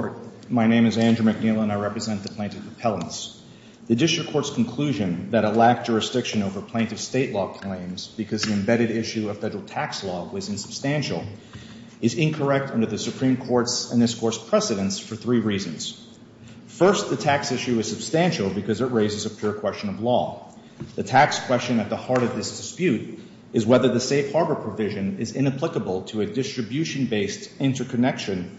District Court, my name is Andrew McNeil and I represent the Plaintiff Appellants. The District Court's conclusion that it lacked jurisdiction over plaintiff state law claims because the embedded issue of federal tax law was insubstantial is incorrect under the Supreme Court's and this Court's precedence for three reasons. First, the tax issue is substantial because it raises a pure question of law. The tax question at the heart of this dispute is whether the safe harbor provision is inapplicable to a distribution-based interconnection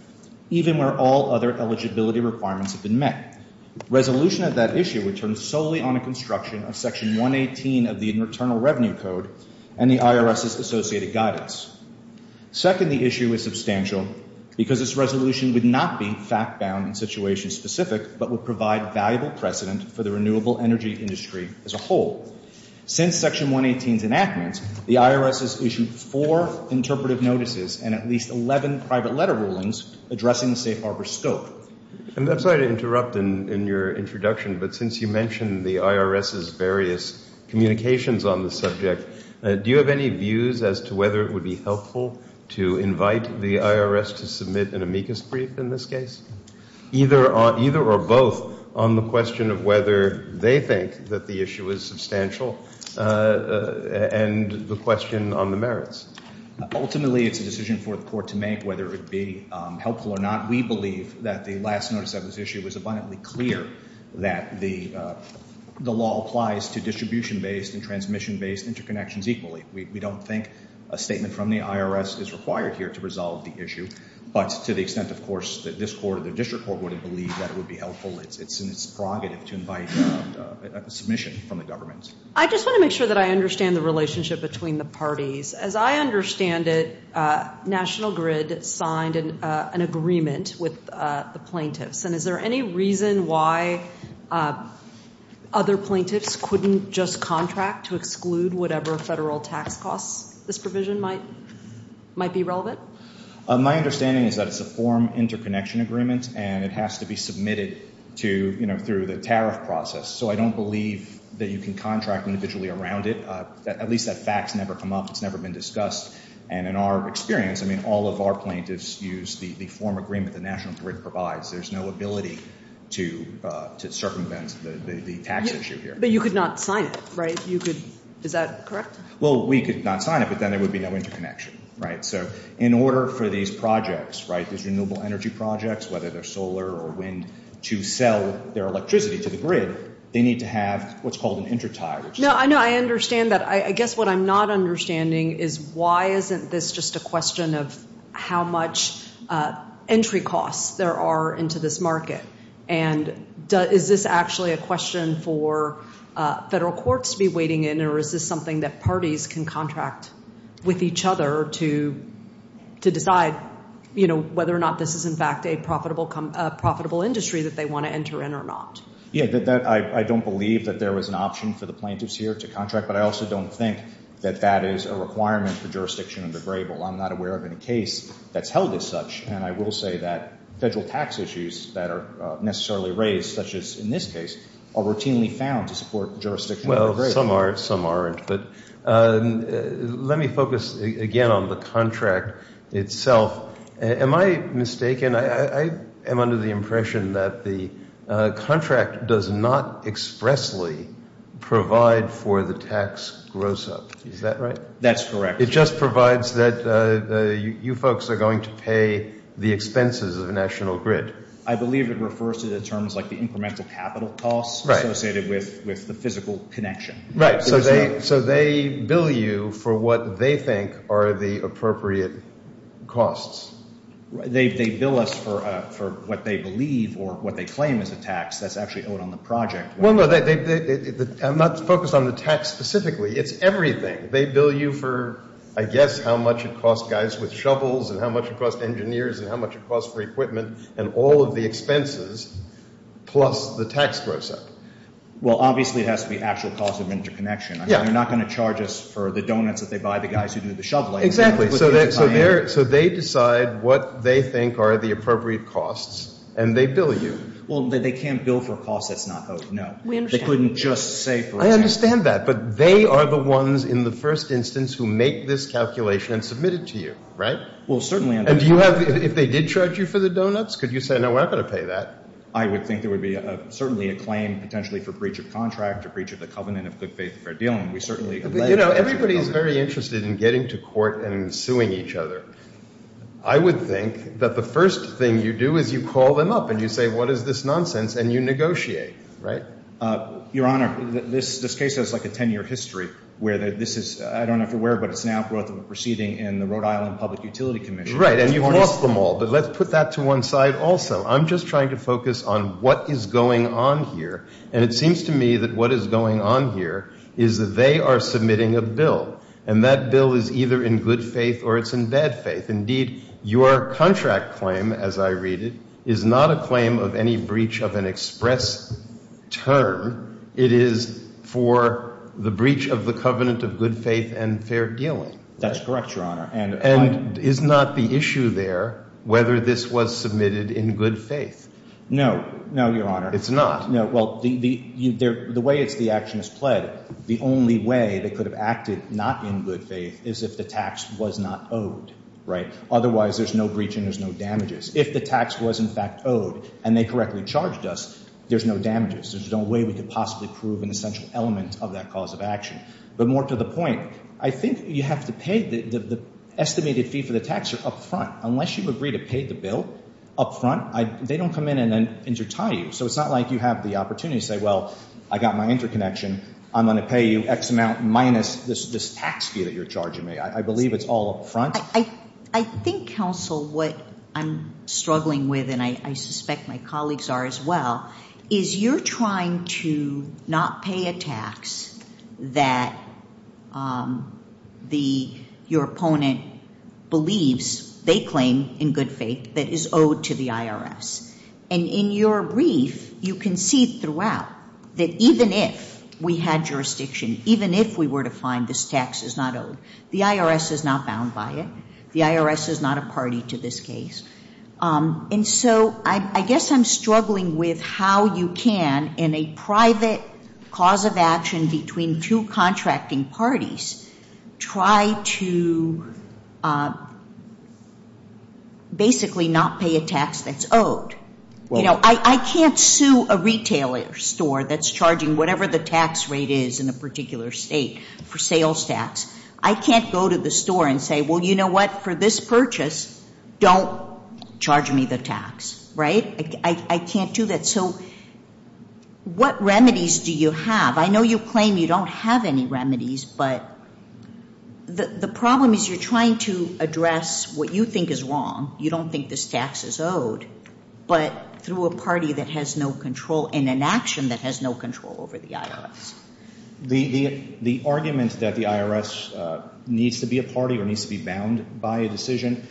even where all other eligibility requirements have been met. Resolution of that issue returns solely on a construction of Section 118 of the Internal Revenue Code and the IRS's associated guidance. Second, the issue is substantial because this resolution would not be fact-bound and situation-specific but would provide valuable precedent for the renewable energy industry as a whole. Since Section 118's enactment, the IRS has issued four interpretive notices and at least 11 private letter rulings addressing the safe harbor scope. I'm sorry to interrupt in your introduction, but since you mentioned the IRS's various communications on the subject, do you have any views as to whether it would be helpful to invite the IRS to submit an amicus brief in this case? Either or both on the question of whether they think that the issue is substantial and the question on the merits? Ultimately, it's a decision for the court to make whether it be helpful or not. We believe that the last notice of this issue was abundantly clear that the law applies to distribution-based and transmission-based interconnections equally. We don't think a statement from the IRS is required here to resolve the issue, but to the extent, of course, that this court or the district court wouldn't believe that it would be helpful, it's prerogative to invite a submission from the government. I just want to make sure that I understand it. National Grid signed an agreement with the plaintiffs. Is there any reason why other plaintiffs couldn't just contract to exclude whatever federal tax costs this provision might be relevant? My understanding is that it's a form interconnection agreement and it has to be submitted through the tariff process. I don't believe that you can contract individually around it. At least that fact has never come up. It's never been discussed. In our experience, all of our plaintiffs use the form agreement the National Grid provides. There's no ability to circumvent the tax issue here. But you could not sign it, right? Is that correct? We could not sign it, but then there would be no interconnection. In order for these projects, these renewable energy projects, whether they're solar or wind, to sell their electricity to the grid, they need to have what's called an intertie. I understand that. I guess what I'm not understanding is why isn't this just a question of how much entry costs there are into this market? Is this actually a question for federal courts to be waiting in or is this something that parties can contract with each other to decide whether or not this is in fact a profitable industry that they want to enter in or not? I don't believe that there was an option for the plaintiffs here to contract, but I also don't think that that is a requirement for jurisdiction under Grable. I'm not aware of any case that's held as such, and I will say that federal tax issues that are necessarily raised, such as in this case, are routinely found to support jurisdiction under Grable. Let me focus again on the contract itself. Am I mistaken? I am under the impression that the contract does not expressly provide for the tax gross-up. Is that right? That's correct. It just provides that you folks are going to pay the expenses of a national grid. I believe it refers to the terms like the incremental capital costs associated with the physical connection. Right. So they bill you for what they think are the appropriate costs. They bill us for what they believe or what they claim is a tax that's actually owed on the project. I'm not focused on the tax specifically. It's everything. They bill you for I guess how much it costs guys with shovels and how much it costs engineers and how much it costs for equipment and all of the expenses plus the tax gross-up. Well, obviously it has to be actual cost of interconnection. They're not going to charge us for the donuts that they buy the guys who do the shoveling. Exactly. So they decide what they think are the appropriate costs and they bill you. Well, they can't bill for costs that's not owed. No. They couldn't just say for a check. I understand that, but they are the ones in the first instance who make this calculation and submit it to you. Right? Well, certainly. And do you have, if they did charge you for the donuts, could you say no, we're not going to pay that? I would think there would be certainly a claim potentially for breach of contract or breach of the covenant of good faith and fair dealing. We certainly You know, everybody's very interested in getting to court and suing each other. I would think that the first thing you do is you call them up and you say, what is this nonsense? And you negotiate. Right? Your Honor, this case has like a 10-year history where this is I don't know if you're aware, but it's now brought to a proceeding in the Rhode Island Public Utility Commission. Right. And you've lost them all. But let's put that to one side also. I'm just trying to focus on what is going on here. And it seems to me that what is going on here is that they are submitting a bill. And that bill is either in good faith or it's in bad faith. Indeed, your contract claim, as I read it, is not a claim of any breach of an express term. It is for the breach of the covenant of good faith and fair dealing. That's correct, Your Honor. And is not the issue there whether this was submitted in good faith? No. No, Your Honor. It's not? No. Well, the way the action is pled, the only way they could have acted not in good faith is if the tax was not owed. Right? Otherwise, there's no breach and there's no damages. If the tax was in fact owed and they correctly charged us, there's no damages. There's no way we could possibly prove an essential element of that cause of action. But more to the point, I think you have to pay the estimated fee for the tax up front. Unless you agree to pay the bill up front, they don't come in and say, well, I got my interconnection. I'm going to pay you X amount minus this tax fee that you're charging me. I believe it's all up front. I think, counsel, what I'm struggling with, and I suspect my colleagues are as well, is you're trying to not pay a tax that your opponent believes they claim in good faith that is owed to the IRS. And in your brief, you can see throughout that even if we had jurisdiction, even if we were to find this tax is not owed, the IRS is not bound by it. The IRS is not a party to this case. And so I guess I'm struggling with how you can, in a private cause of action between two contracting parties, try to basically not pay a tax that's I can't sue a retail store that's charging whatever the tax rate is in a particular state for sales tax. I can't go to the store and say, well, you know what, for this purchase, don't charge me the tax. Right? I can't do that. So what remedies do you have? I know you claim you don't have any remedies, but the problem is you're trying to address what you think is wrong. You don't think this tax is owed. But through a party that has no control and an action that has no control over the IRS. The argument that the IRS needs to be a party or needs to be bound by a decision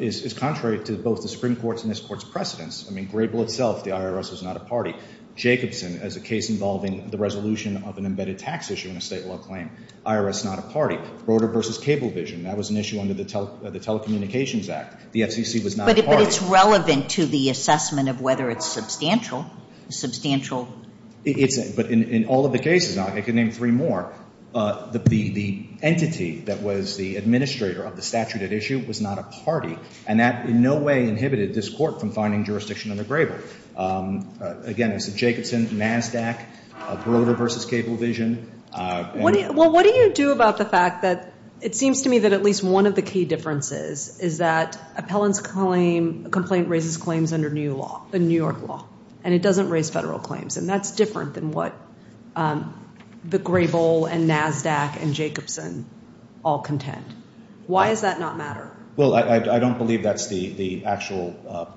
is contrary to both the Supreme Court's and this Court's precedence. I mean, Grable itself, the IRS is not a party. Jacobson, as a case involving the resolution of an embedded tax issue in a state law claim, IRS not a party. Broder v. Cablevision, that was an issue under the Telecommunications Act. The FCC was not a party. But it's relevant to the assessment of whether it's substantial. Substantial. But in all of the cases, I can name three more, the entity that was the administrator of the statute at issue was not a party, and that in no way inhibited this Court from finding jurisdiction under Grable. Again, Jacobson, NASDAQ, Broder v. Cablevision. Well, what do you do about the fact that it seems to me that at least one of the key differences is that appellant's complaint raises claims under new law, the New York law. And it doesn't raise federal claims. And that's different than what the Grable and NASDAQ and Jacobson all contend. Why does that not matter? Well, I don't believe that's the actual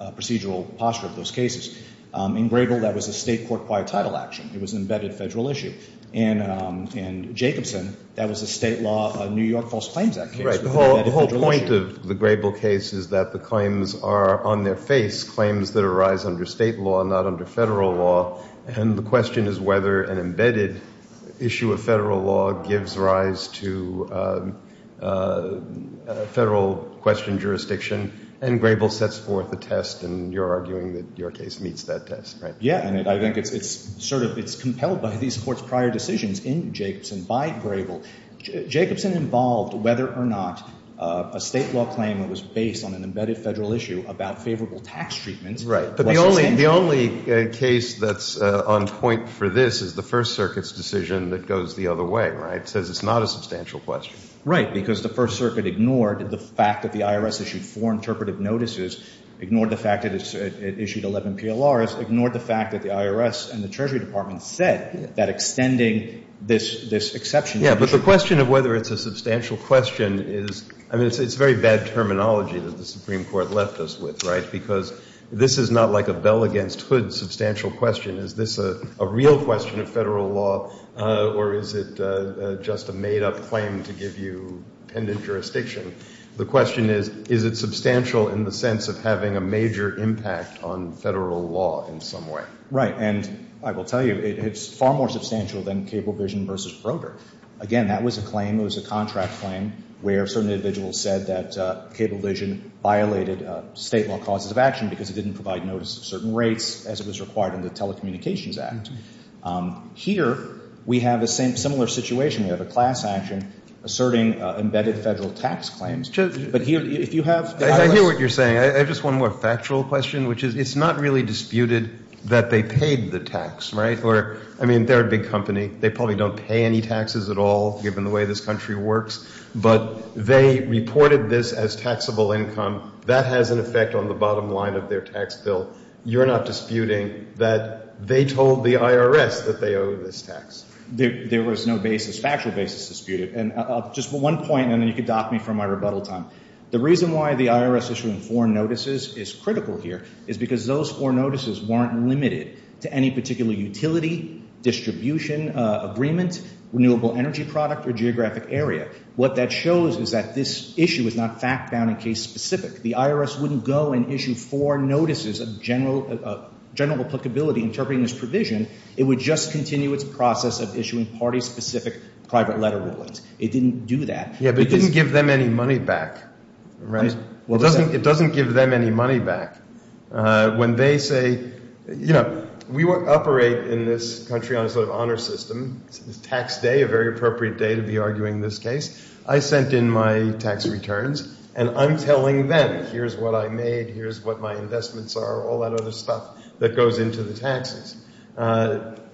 procedural posture of those cases. In Grable, that was a state court-wide title action. It was an embedded federal issue. In Jacobson, that was a state law, New York False Claims Act case. The whole point of the Grable case is that the claims are on their face, claims that arise under state law, not under federal law. And the question is whether an embedded issue of federal law gives rise to federal question jurisdiction, and Grable sets forth a test, and you're arguing that your case meets that test, right? Yeah, and I think it's compelled by these Court's prior decisions in Jacobson involved whether or not a state law claim that was based on an embedded federal issue about favorable tax treatments was substantial. Right, but the only case that's on point for this is the First Circuit's decision that goes the other way, right? It says it's not a substantial question. Right, because the First Circuit ignored the fact that the IRS issued four interpretive notices, ignored the fact that it issued 11 PLRs, ignored the fact that the IRS and the Treasury Department said that extending this exception should be true. Yeah, but the question of whether it's a substantial question is, I mean, it's very bad terminology that the Supreme Court left us with, right? Because this is not like a bell against hood substantial question. Is this a real question of federal law, or is it just a made-up claim to give you pendent jurisdiction? The question is, is it substantial in the sense of having a major impact on federal law in some way? Right, and I will tell you it's far more substantial than Cablevision versus Broder. Again, that was a claim. It was a contract claim where certain individuals said that Cablevision violated state law causes of action because it didn't provide notice of certain rates as it was required in the Telecommunications Act. Here we have a similar situation. We have a class action asserting embedded federal tax claims, but if you have the IRS... I hear what you're saying. I have just one more factual question, which is it's not really disputed that they paid the tax, right? Or, I mean, they're a big company. They probably don't pay any taxes at all, given the way this country works, but they reported this as taxable income. That has an effect on the bottom line of their tax bill. You're not disputing that they told the IRS that they owe this tax? There was no basis, factual basis disputed. And just one point, and then you can dock me for my rebuttal time. The reason why the IRS issuing foreign notices is critical here is because those foreign notices weren't limited to any particular utility, distribution, agreement, renewable energy product, or geographic area. What that shows is that this issue is not fact-bound and case-specific. The IRS wouldn't go and issue foreign notices of general applicability interpreting this provision. It would just continue its process of issuing party-specific private letter rulings. It didn't do that. Yeah, but it didn't give them any money back, right? It doesn't give them any money back. When they say, you know, we operate in this country on a sort of honor system. It's tax day, a very appropriate day to be arguing this case. I sent in my tax returns, and I'm telling them, here's what I made, here's what my investments are, all that other stuff that goes into the taxes.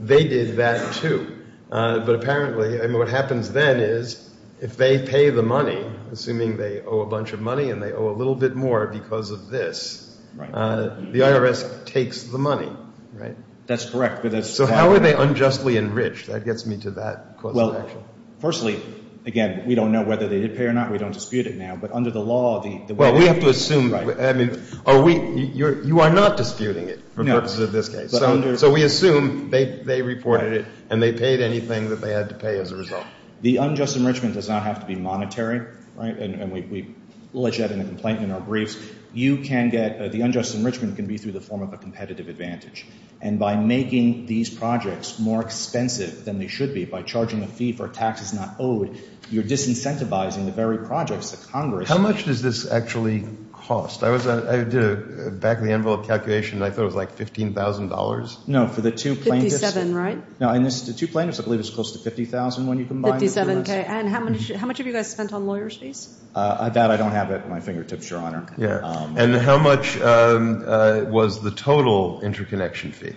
They did that, too. But apparently, I mean, what happens then is if they pay the money, assuming they owe a bunch of money and they owe a little bit more because of this, the IRS takes the money, right? That's correct. So how are they unjustly enriched? That gets me to that cause of action. Well, firstly, again, we don't know whether they did pay or not. We don't dispute it now. But under the law, the way... Well, we have to assume... I mean, you are not disputing it for the purpose of this case. So we assume they reported it, and they paid anything that they had to pay as a result. The unjust enrichment does not have to be monetary, right? And we allege that in a complaint in our briefs. You can get... The unjust enrichment can be through the form of a competitive advantage. And by making these projects more expensive than they should be, by charging a fee for taxes not owed, you're disincentivizing the very projects that Congress... How much does this actually cost? I did a back-of-the-envelope calculation, and I thought it was like $15,000. No, for the two plaintiffs... $57,000, right? No, and the two plaintiffs, I believe, it's close to $50,000 when you combine it. $57,000. And how much have you guys spent on lawyer's fees? That, I don't have at my fingertips, Your Honor. And how much was the total interconnection fee?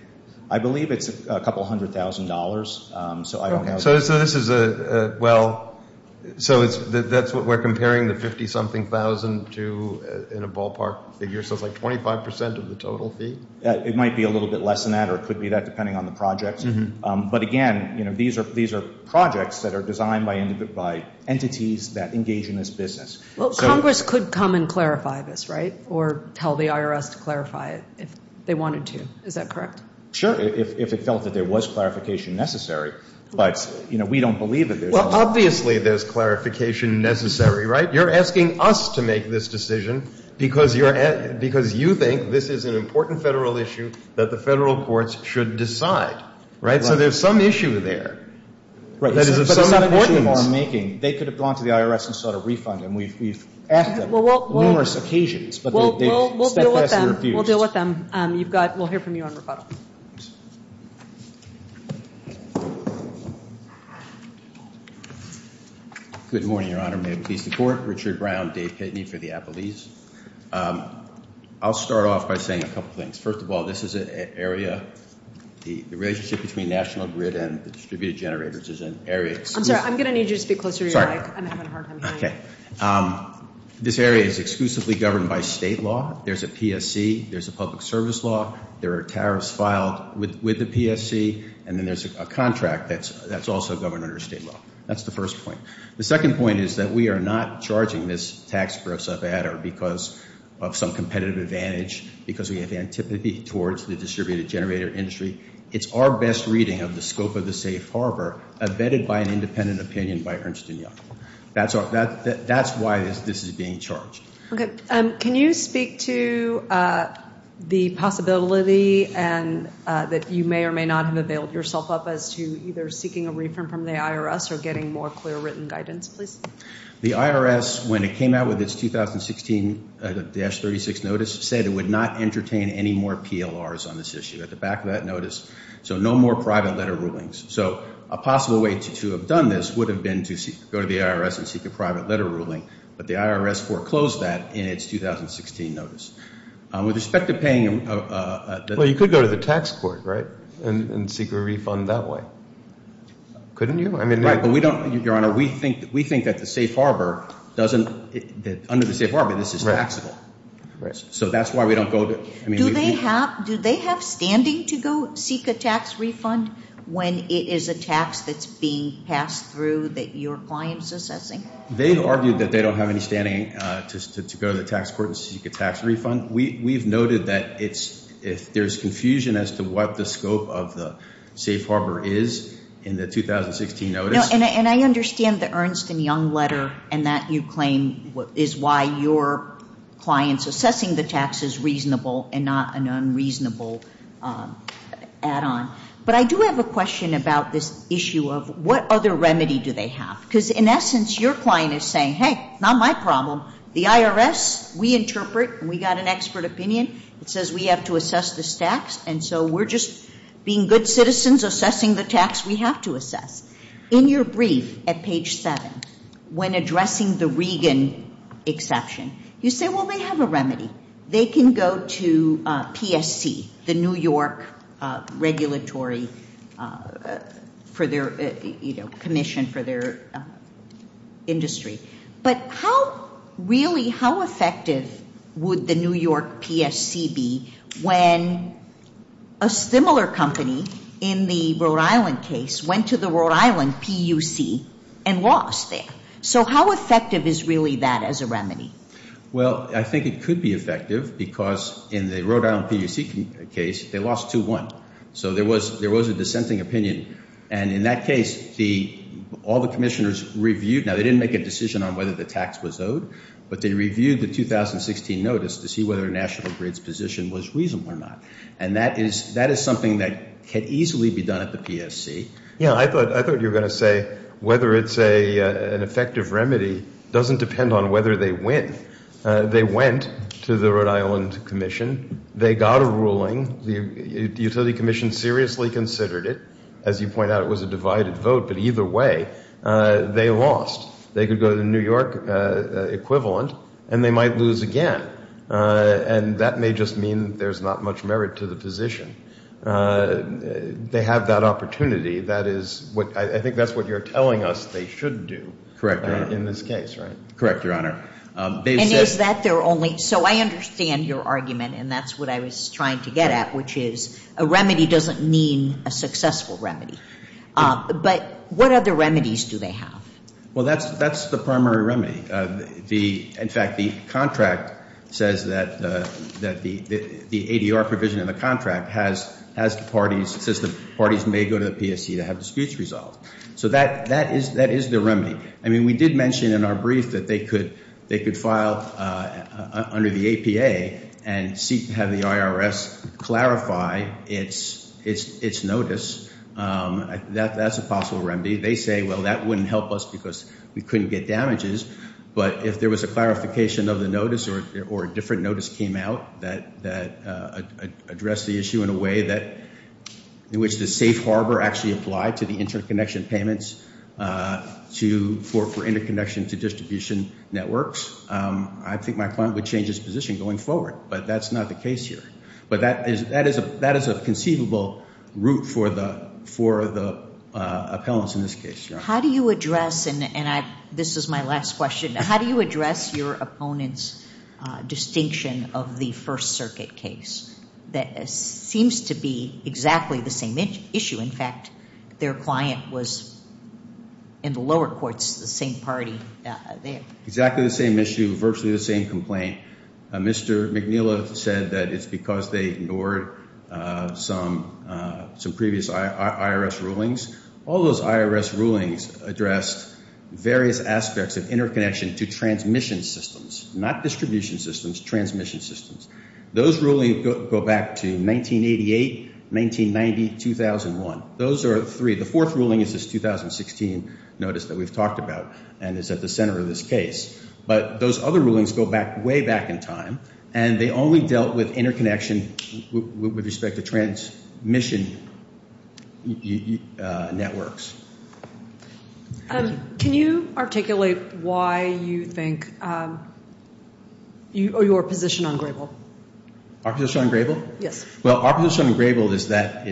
I believe it's a couple hundred thousand dollars. So this is a... Well... So that's what we're comparing the 50-something thousand to in a ballpark figure. So it's like 25% of the total fee? It might be a little bit less than that, or it could be that, depending on the project. But again, these are projects that are designed by entities that engage in this business. Well, Congress could come and clarify this, right? Or tell the IRS to clarify it if they wanted to. Is that correct? Sure, if it felt that there was clarification necessary. But we don't believe that there's... Well, obviously there's clarification necessary, right? You're asking us to make this decision because you think this is an important federal issue that the federal courts should decide. Right? So there's some issue there. They could have gone to the IRS and sought a refund, and we've asked them on numerous occasions, but they've stepped past the refusals. We'll deal with them. We'll hear from you on rebuttal. Good morning, Your Honor. May it please the Court. Richard Brown, Dave Pitney for the Appellees. I'll start off by saying a couple things. First of all, this is an area... The relationship between National Grid and the distributed generators is an area... I'm sorry. I'm going to need you to speak closer to your mic. I'm having a hard time hearing you. This area is exclusively governed by state law. There's a PSC. There's a public service law. There are tariffs filed with the PSC. And then there's a contract that's also governed under state law. That's the first point. The second point is that we are not charging this tax gross up adder because of some competitive advantage, because we have antipathy towards the distributed generator industry. It's our best reading of the scope of the safe harbor abetted by an independent opinion by Ernst & Young. That's why this is being charged. Okay. Can you speak to the possibility that you may or may not have availed yourself up as to either seeking a refund from the IRS or getting more clear written guidance, please? The IRS, when it came out with its 2016-36 notice, said it would not entertain any more PLRs on this issue at the back of that notice. So no more private letter rulings. So a possible way to have done this would have been to go to the IRS and seek a private letter ruling, but the IRS foreclosed that in its 2016 notice. With respect to paying Well, you could go to the tax court, right, and seek a refund that way. Couldn't you? Right, but we don't, Your Honor, we think that the safe harbor doesn't, under the safe harbor, this is taxable. So that's why we don't go to Do they have standing to go seek a tax refund when it is a tax that's being passed through that your client's assessing? They've argued that they don't have any standing to go to the tax court and seek a tax refund. We've noted that there's confusion as to what the scope of the safe harbor is in the 2016 notice. is why your client's assessing the tax is reasonable and not an unreasonable add-on. But I do have a question about this issue of what other remedy do they have? Because in essence, your client is saying, hey, not my problem. The IRS, we interpret, and we got an expert opinion. It says we have to assess this tax, and so we're just being good citizens assessing the tax we have to assess. In your brief at page 7, when addressing the Regan exception, you say, well, they have a remedy. They can go to PSC, the New York regulatory commission for their industry. But really, how effective would the New York PSC be when a similar company in the Rhode Island case went to the Rhode Island PUC and lost there? So how effective is really that as a remedy? Well, I think it could be effective because in the Rhode Island PUC case, they lost 2-1. So there was a dissenting opinion. And in that case, all the commissioners reviewed. Now, they didn't make a decision on whether the tax was owed, but they reviewed the 2016 notice to see whether National Grid's position was reasonable or not. And that is something that could easily be done at the PUC. But I would say whether it's an effective remedy doesn't depend on whether they win. They went to the Rhode Island commission. They got a ruling. The utility commission seriously considered it. As you point out, it was a divided vote. But either way, they lost. They could go to the New York equivalent and they might lose again. And that may just mean there's not much merit to the position. They have that opportunity. I think that's what you're telling us they should do in this case, right? Correct, Your Honor. So I understand your argument, and that's what I was trying to get at, which is a remedy doesn't mean a successful remedy. But what other remedies do they have? Well, that's the primary remedy. In fact, the contract says that the ADR provision in the contract has parties may go to the PSC to have disputes resolved. So that is the remedy. I mean, we did mention in our brief that they could file under the APA and have the IRS clarify its notice. That's a possible remedy. They say, well, that wouldn't help us because we couldn't get damages. But if there was a clarification of the notice or a different notice came out that addressed the issue in a way in which the safe harbor actually applied to the interconnection payments for interconnection to distribution networks, I think my client would change his position going forward. But that's not the case here. But that is a conceivable route for the appellants in this case. How do you address, and this is my last question, how do you address your opponent's distinction of the seems to be exactly the same issue. In fact, their client was in the lower courts, the same party there. Exactly the same issue, virtually the same complaint. Mr. McNeila said that it's because they ignored some previous IRS rulings. All those IRS rulings addressed various aspects of interconnection to transmission systems, not distribution systems, transmission systems. Those rulings go back to 1988, 1990, 2001. Those are three. The fourth ruling is this 2016 notice that we've talked about and is at the center of this case. But those other rulings go way back in time and they only dealt with interconnection with respect to transmission networks. Can you articulate why you think or your position on Grable? Our position on Grable? Yes. Well, our position on Grable is that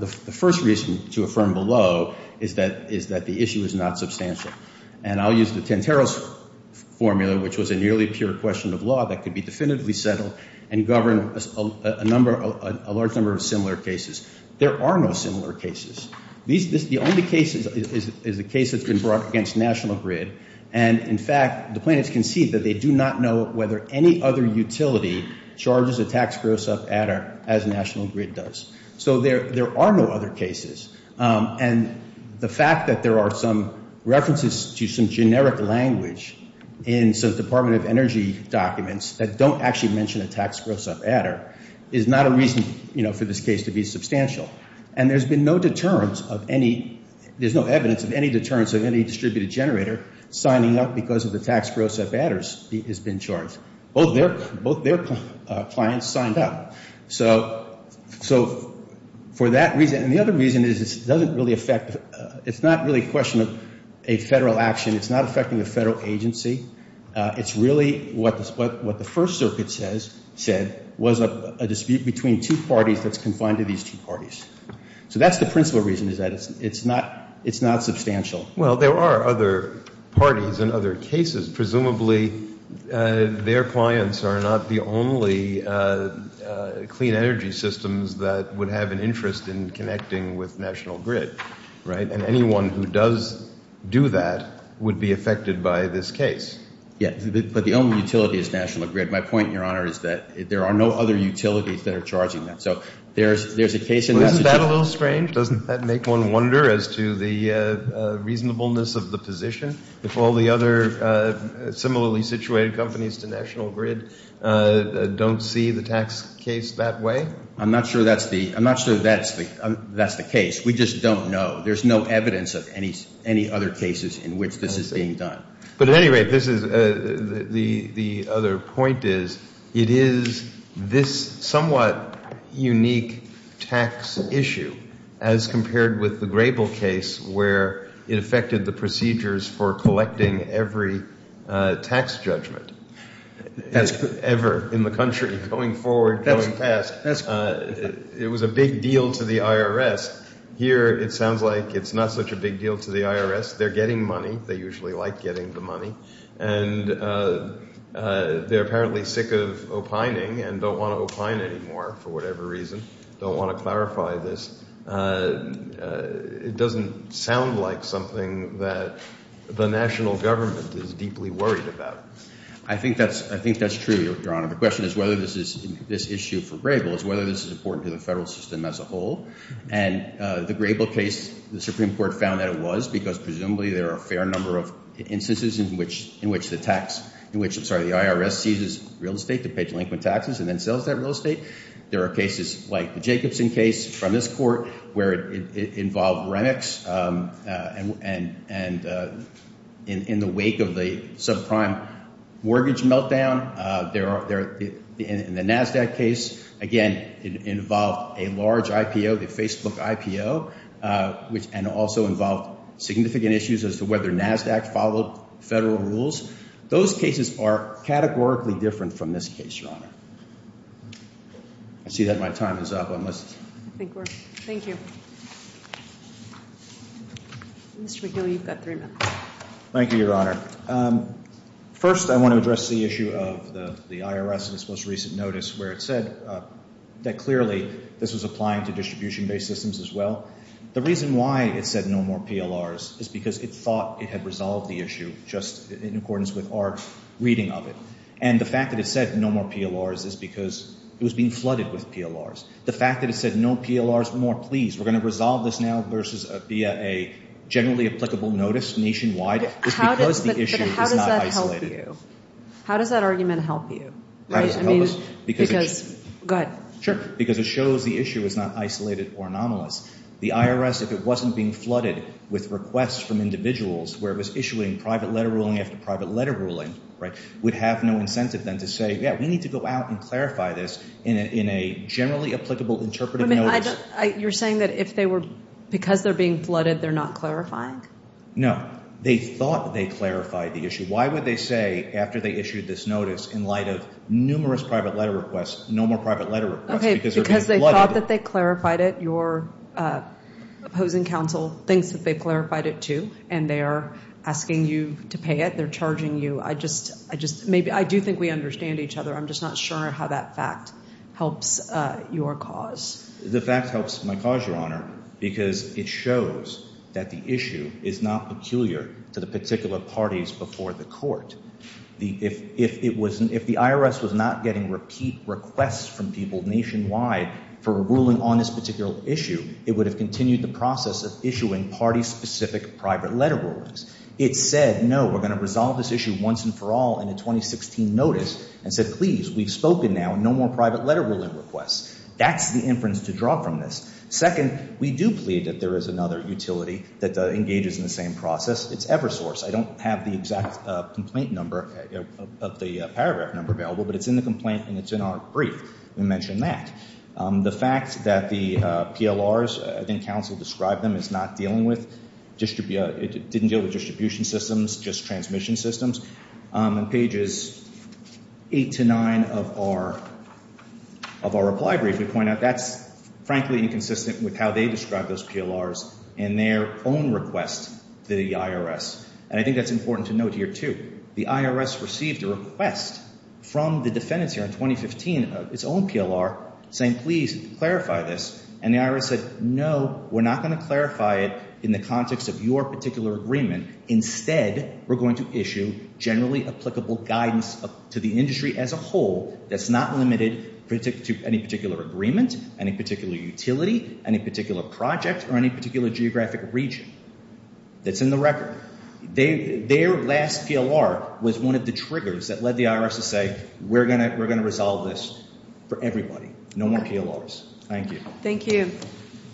the first reason to affirm below is that the issue is not substantial. And I'll use the Tenteros formula, which was a nearly pure question of law that could be definitively settled and govern a large number of similar cases. There are no similar cases. The only case is the case that's been brought against National Grid. And, in fact, the plaintiffs concede that they do not know whether any other utility charges a tax gross-up adder as National Grid does. So there are no other cases. And the fact that there are some references to some generic language in some Department of Energy documents that don't actually mention a tax gross-up adder is not a reason for this case to be substantial. And there's been no deterrence of any there's no evidence of any deterrence of any distributed generator signing up because of the tax gross-up adders has been charged. Both their clients signed up. So for that reason, and the other reason is it doesn't really affect, it's not really a question of a federal action. It's not affecting the federal agency. It's really what the First Circuit said So that's the principal reason is that it's not substantial. Well, there are other parties and other cases. Presumably their clients are not the only clean energy systems that would have an interest in connecting with National Grid, right? And anyone who does do that would be affected by this case. Yeah, but the only utility is National Grid. My point, Your Honor, is that there are no other utilities that are charging on that. So there's a case in that. Well, isn't that a little strange? Doesn't that make one wonder as to the reasonableness of the position? If all the other similarly situated companies to National Grid don't see the tax case that way? I'm not sure that's the I'm not sure that's the case. We just don't know. There's no evidence of any other cases in which this is being done. But at any rate, this is, the other point is, it is this somewhat unique tax issue as compared with the Grable case where it affected the procedures for collecting every tax judgment ever in the country going forward, going past. It was a big deal to the IRS. Here it sounds like it's not such a big deal to the IRS. They're getting money. They usually like getting the money. And they're apparently sick of opining and don't want to opine anymore for whatever reason. Don't want to clarify this. It doesn't sound like something that the national government is deeply worried about. I think that's true, Your Honor. The question is whether this issue for Grable is whether this is important to the federal system as a whole. And the Grable case, the Supreme Court found that it was because presumably there are a fair number of instances in which the tax in which, I'm sorry, the IRS seizes real estate to pay delinquent taxes and then sells that real estate. There are cases like the Jacobson case from this court where it involved Renex and in the wake of the subprime mortgage meltdown. In the NASDAQ case, again it involved a large IPO, the Facebook IPO, and also involved significant issues as to whether NASDAQ followed federal rules. Those cases are categorically different from this case, Your Honor. I see that my time is up. Thank you. Mr. McGill, you've got three minutes. Thank you, Your Honor. First, I want to address the issue of the IRS in its most recent notice where it said that clearly this was applying to distribution-based systems as well. The reason why it said no more PLRs is because it thought it had resolved the issue just in accordance with our reading of it. And the fact that it said no more PLRs is because it was being flooded with PLRs. The fact that it said no PLRs, we're more pleased. We're going to resolve this now versus via a generally applicable notice nationwide is because the issue is not isolated. But how does that help you? How does that argument help you? How does it help us? Because, go ahead. Sure. Because it shows the issue is not isolated or anomalous. The IRS, if it wasn't being flooded with requests from individuals where it was issuing private letter ruling after private letter ruling, would have no incentive then to say, yeah, we need to go out and clarify this in a generally applicable interpretive notice. You're saying that because they're being flooded they're not clarifying? No. They thought they clarified the issue. Why would they say, after they issued this notice, in light of numerous Because they thought that they clarified it. Your opposing counsel thinks that they clarified it too. And they are asking you to pay it. They're charging you. I do think we understand each other. I'm just not sure how that fact helps your cause. The fact helps my cause, Your Honor, because it shows that the issue is not peculiar to the particular parties before the court. If the IRS was not getting repeat nationwide for a ruling on this particular issue, it would have continued the process of issuing party-specific private letter rulings. It said, no, we're going to resolve this issue once and for all in a 2016 notice, and said please, we've spoken now. No more private letter ruling requests. That's the inference to draw from this. Second, we do plead that there is another utility that engages in the same process. It's Eversource. I don't have the exact complaint number of the paragraph number available, but it's in the complaint and it's in our brief. We mention that. The fact that the PLRs, I think counsel described them, is not dealing with distribution systems, just transmission systems. On pages 8 to 9 of our reply brief, we point out that's frankly inconsistent with how they described those PLRs in their own request to the IRS. And I think that's important to note here too. The IRS received a request from the defendants here in 2015, its own PLR, saying please clarify this. And the IRS said, no, we're not going to clarify it in the context of your particular agreement. Instead, we're going to issue generally applicable guidance to the industry as a whole that's not limited to any particular agreement, any particular utility, any particular project, or any particular geographic region. That's in the record. Their last PLR was one of the triggers that led the IRS to say, we're going to resolve this for everybody. No more PLRs. Thank you.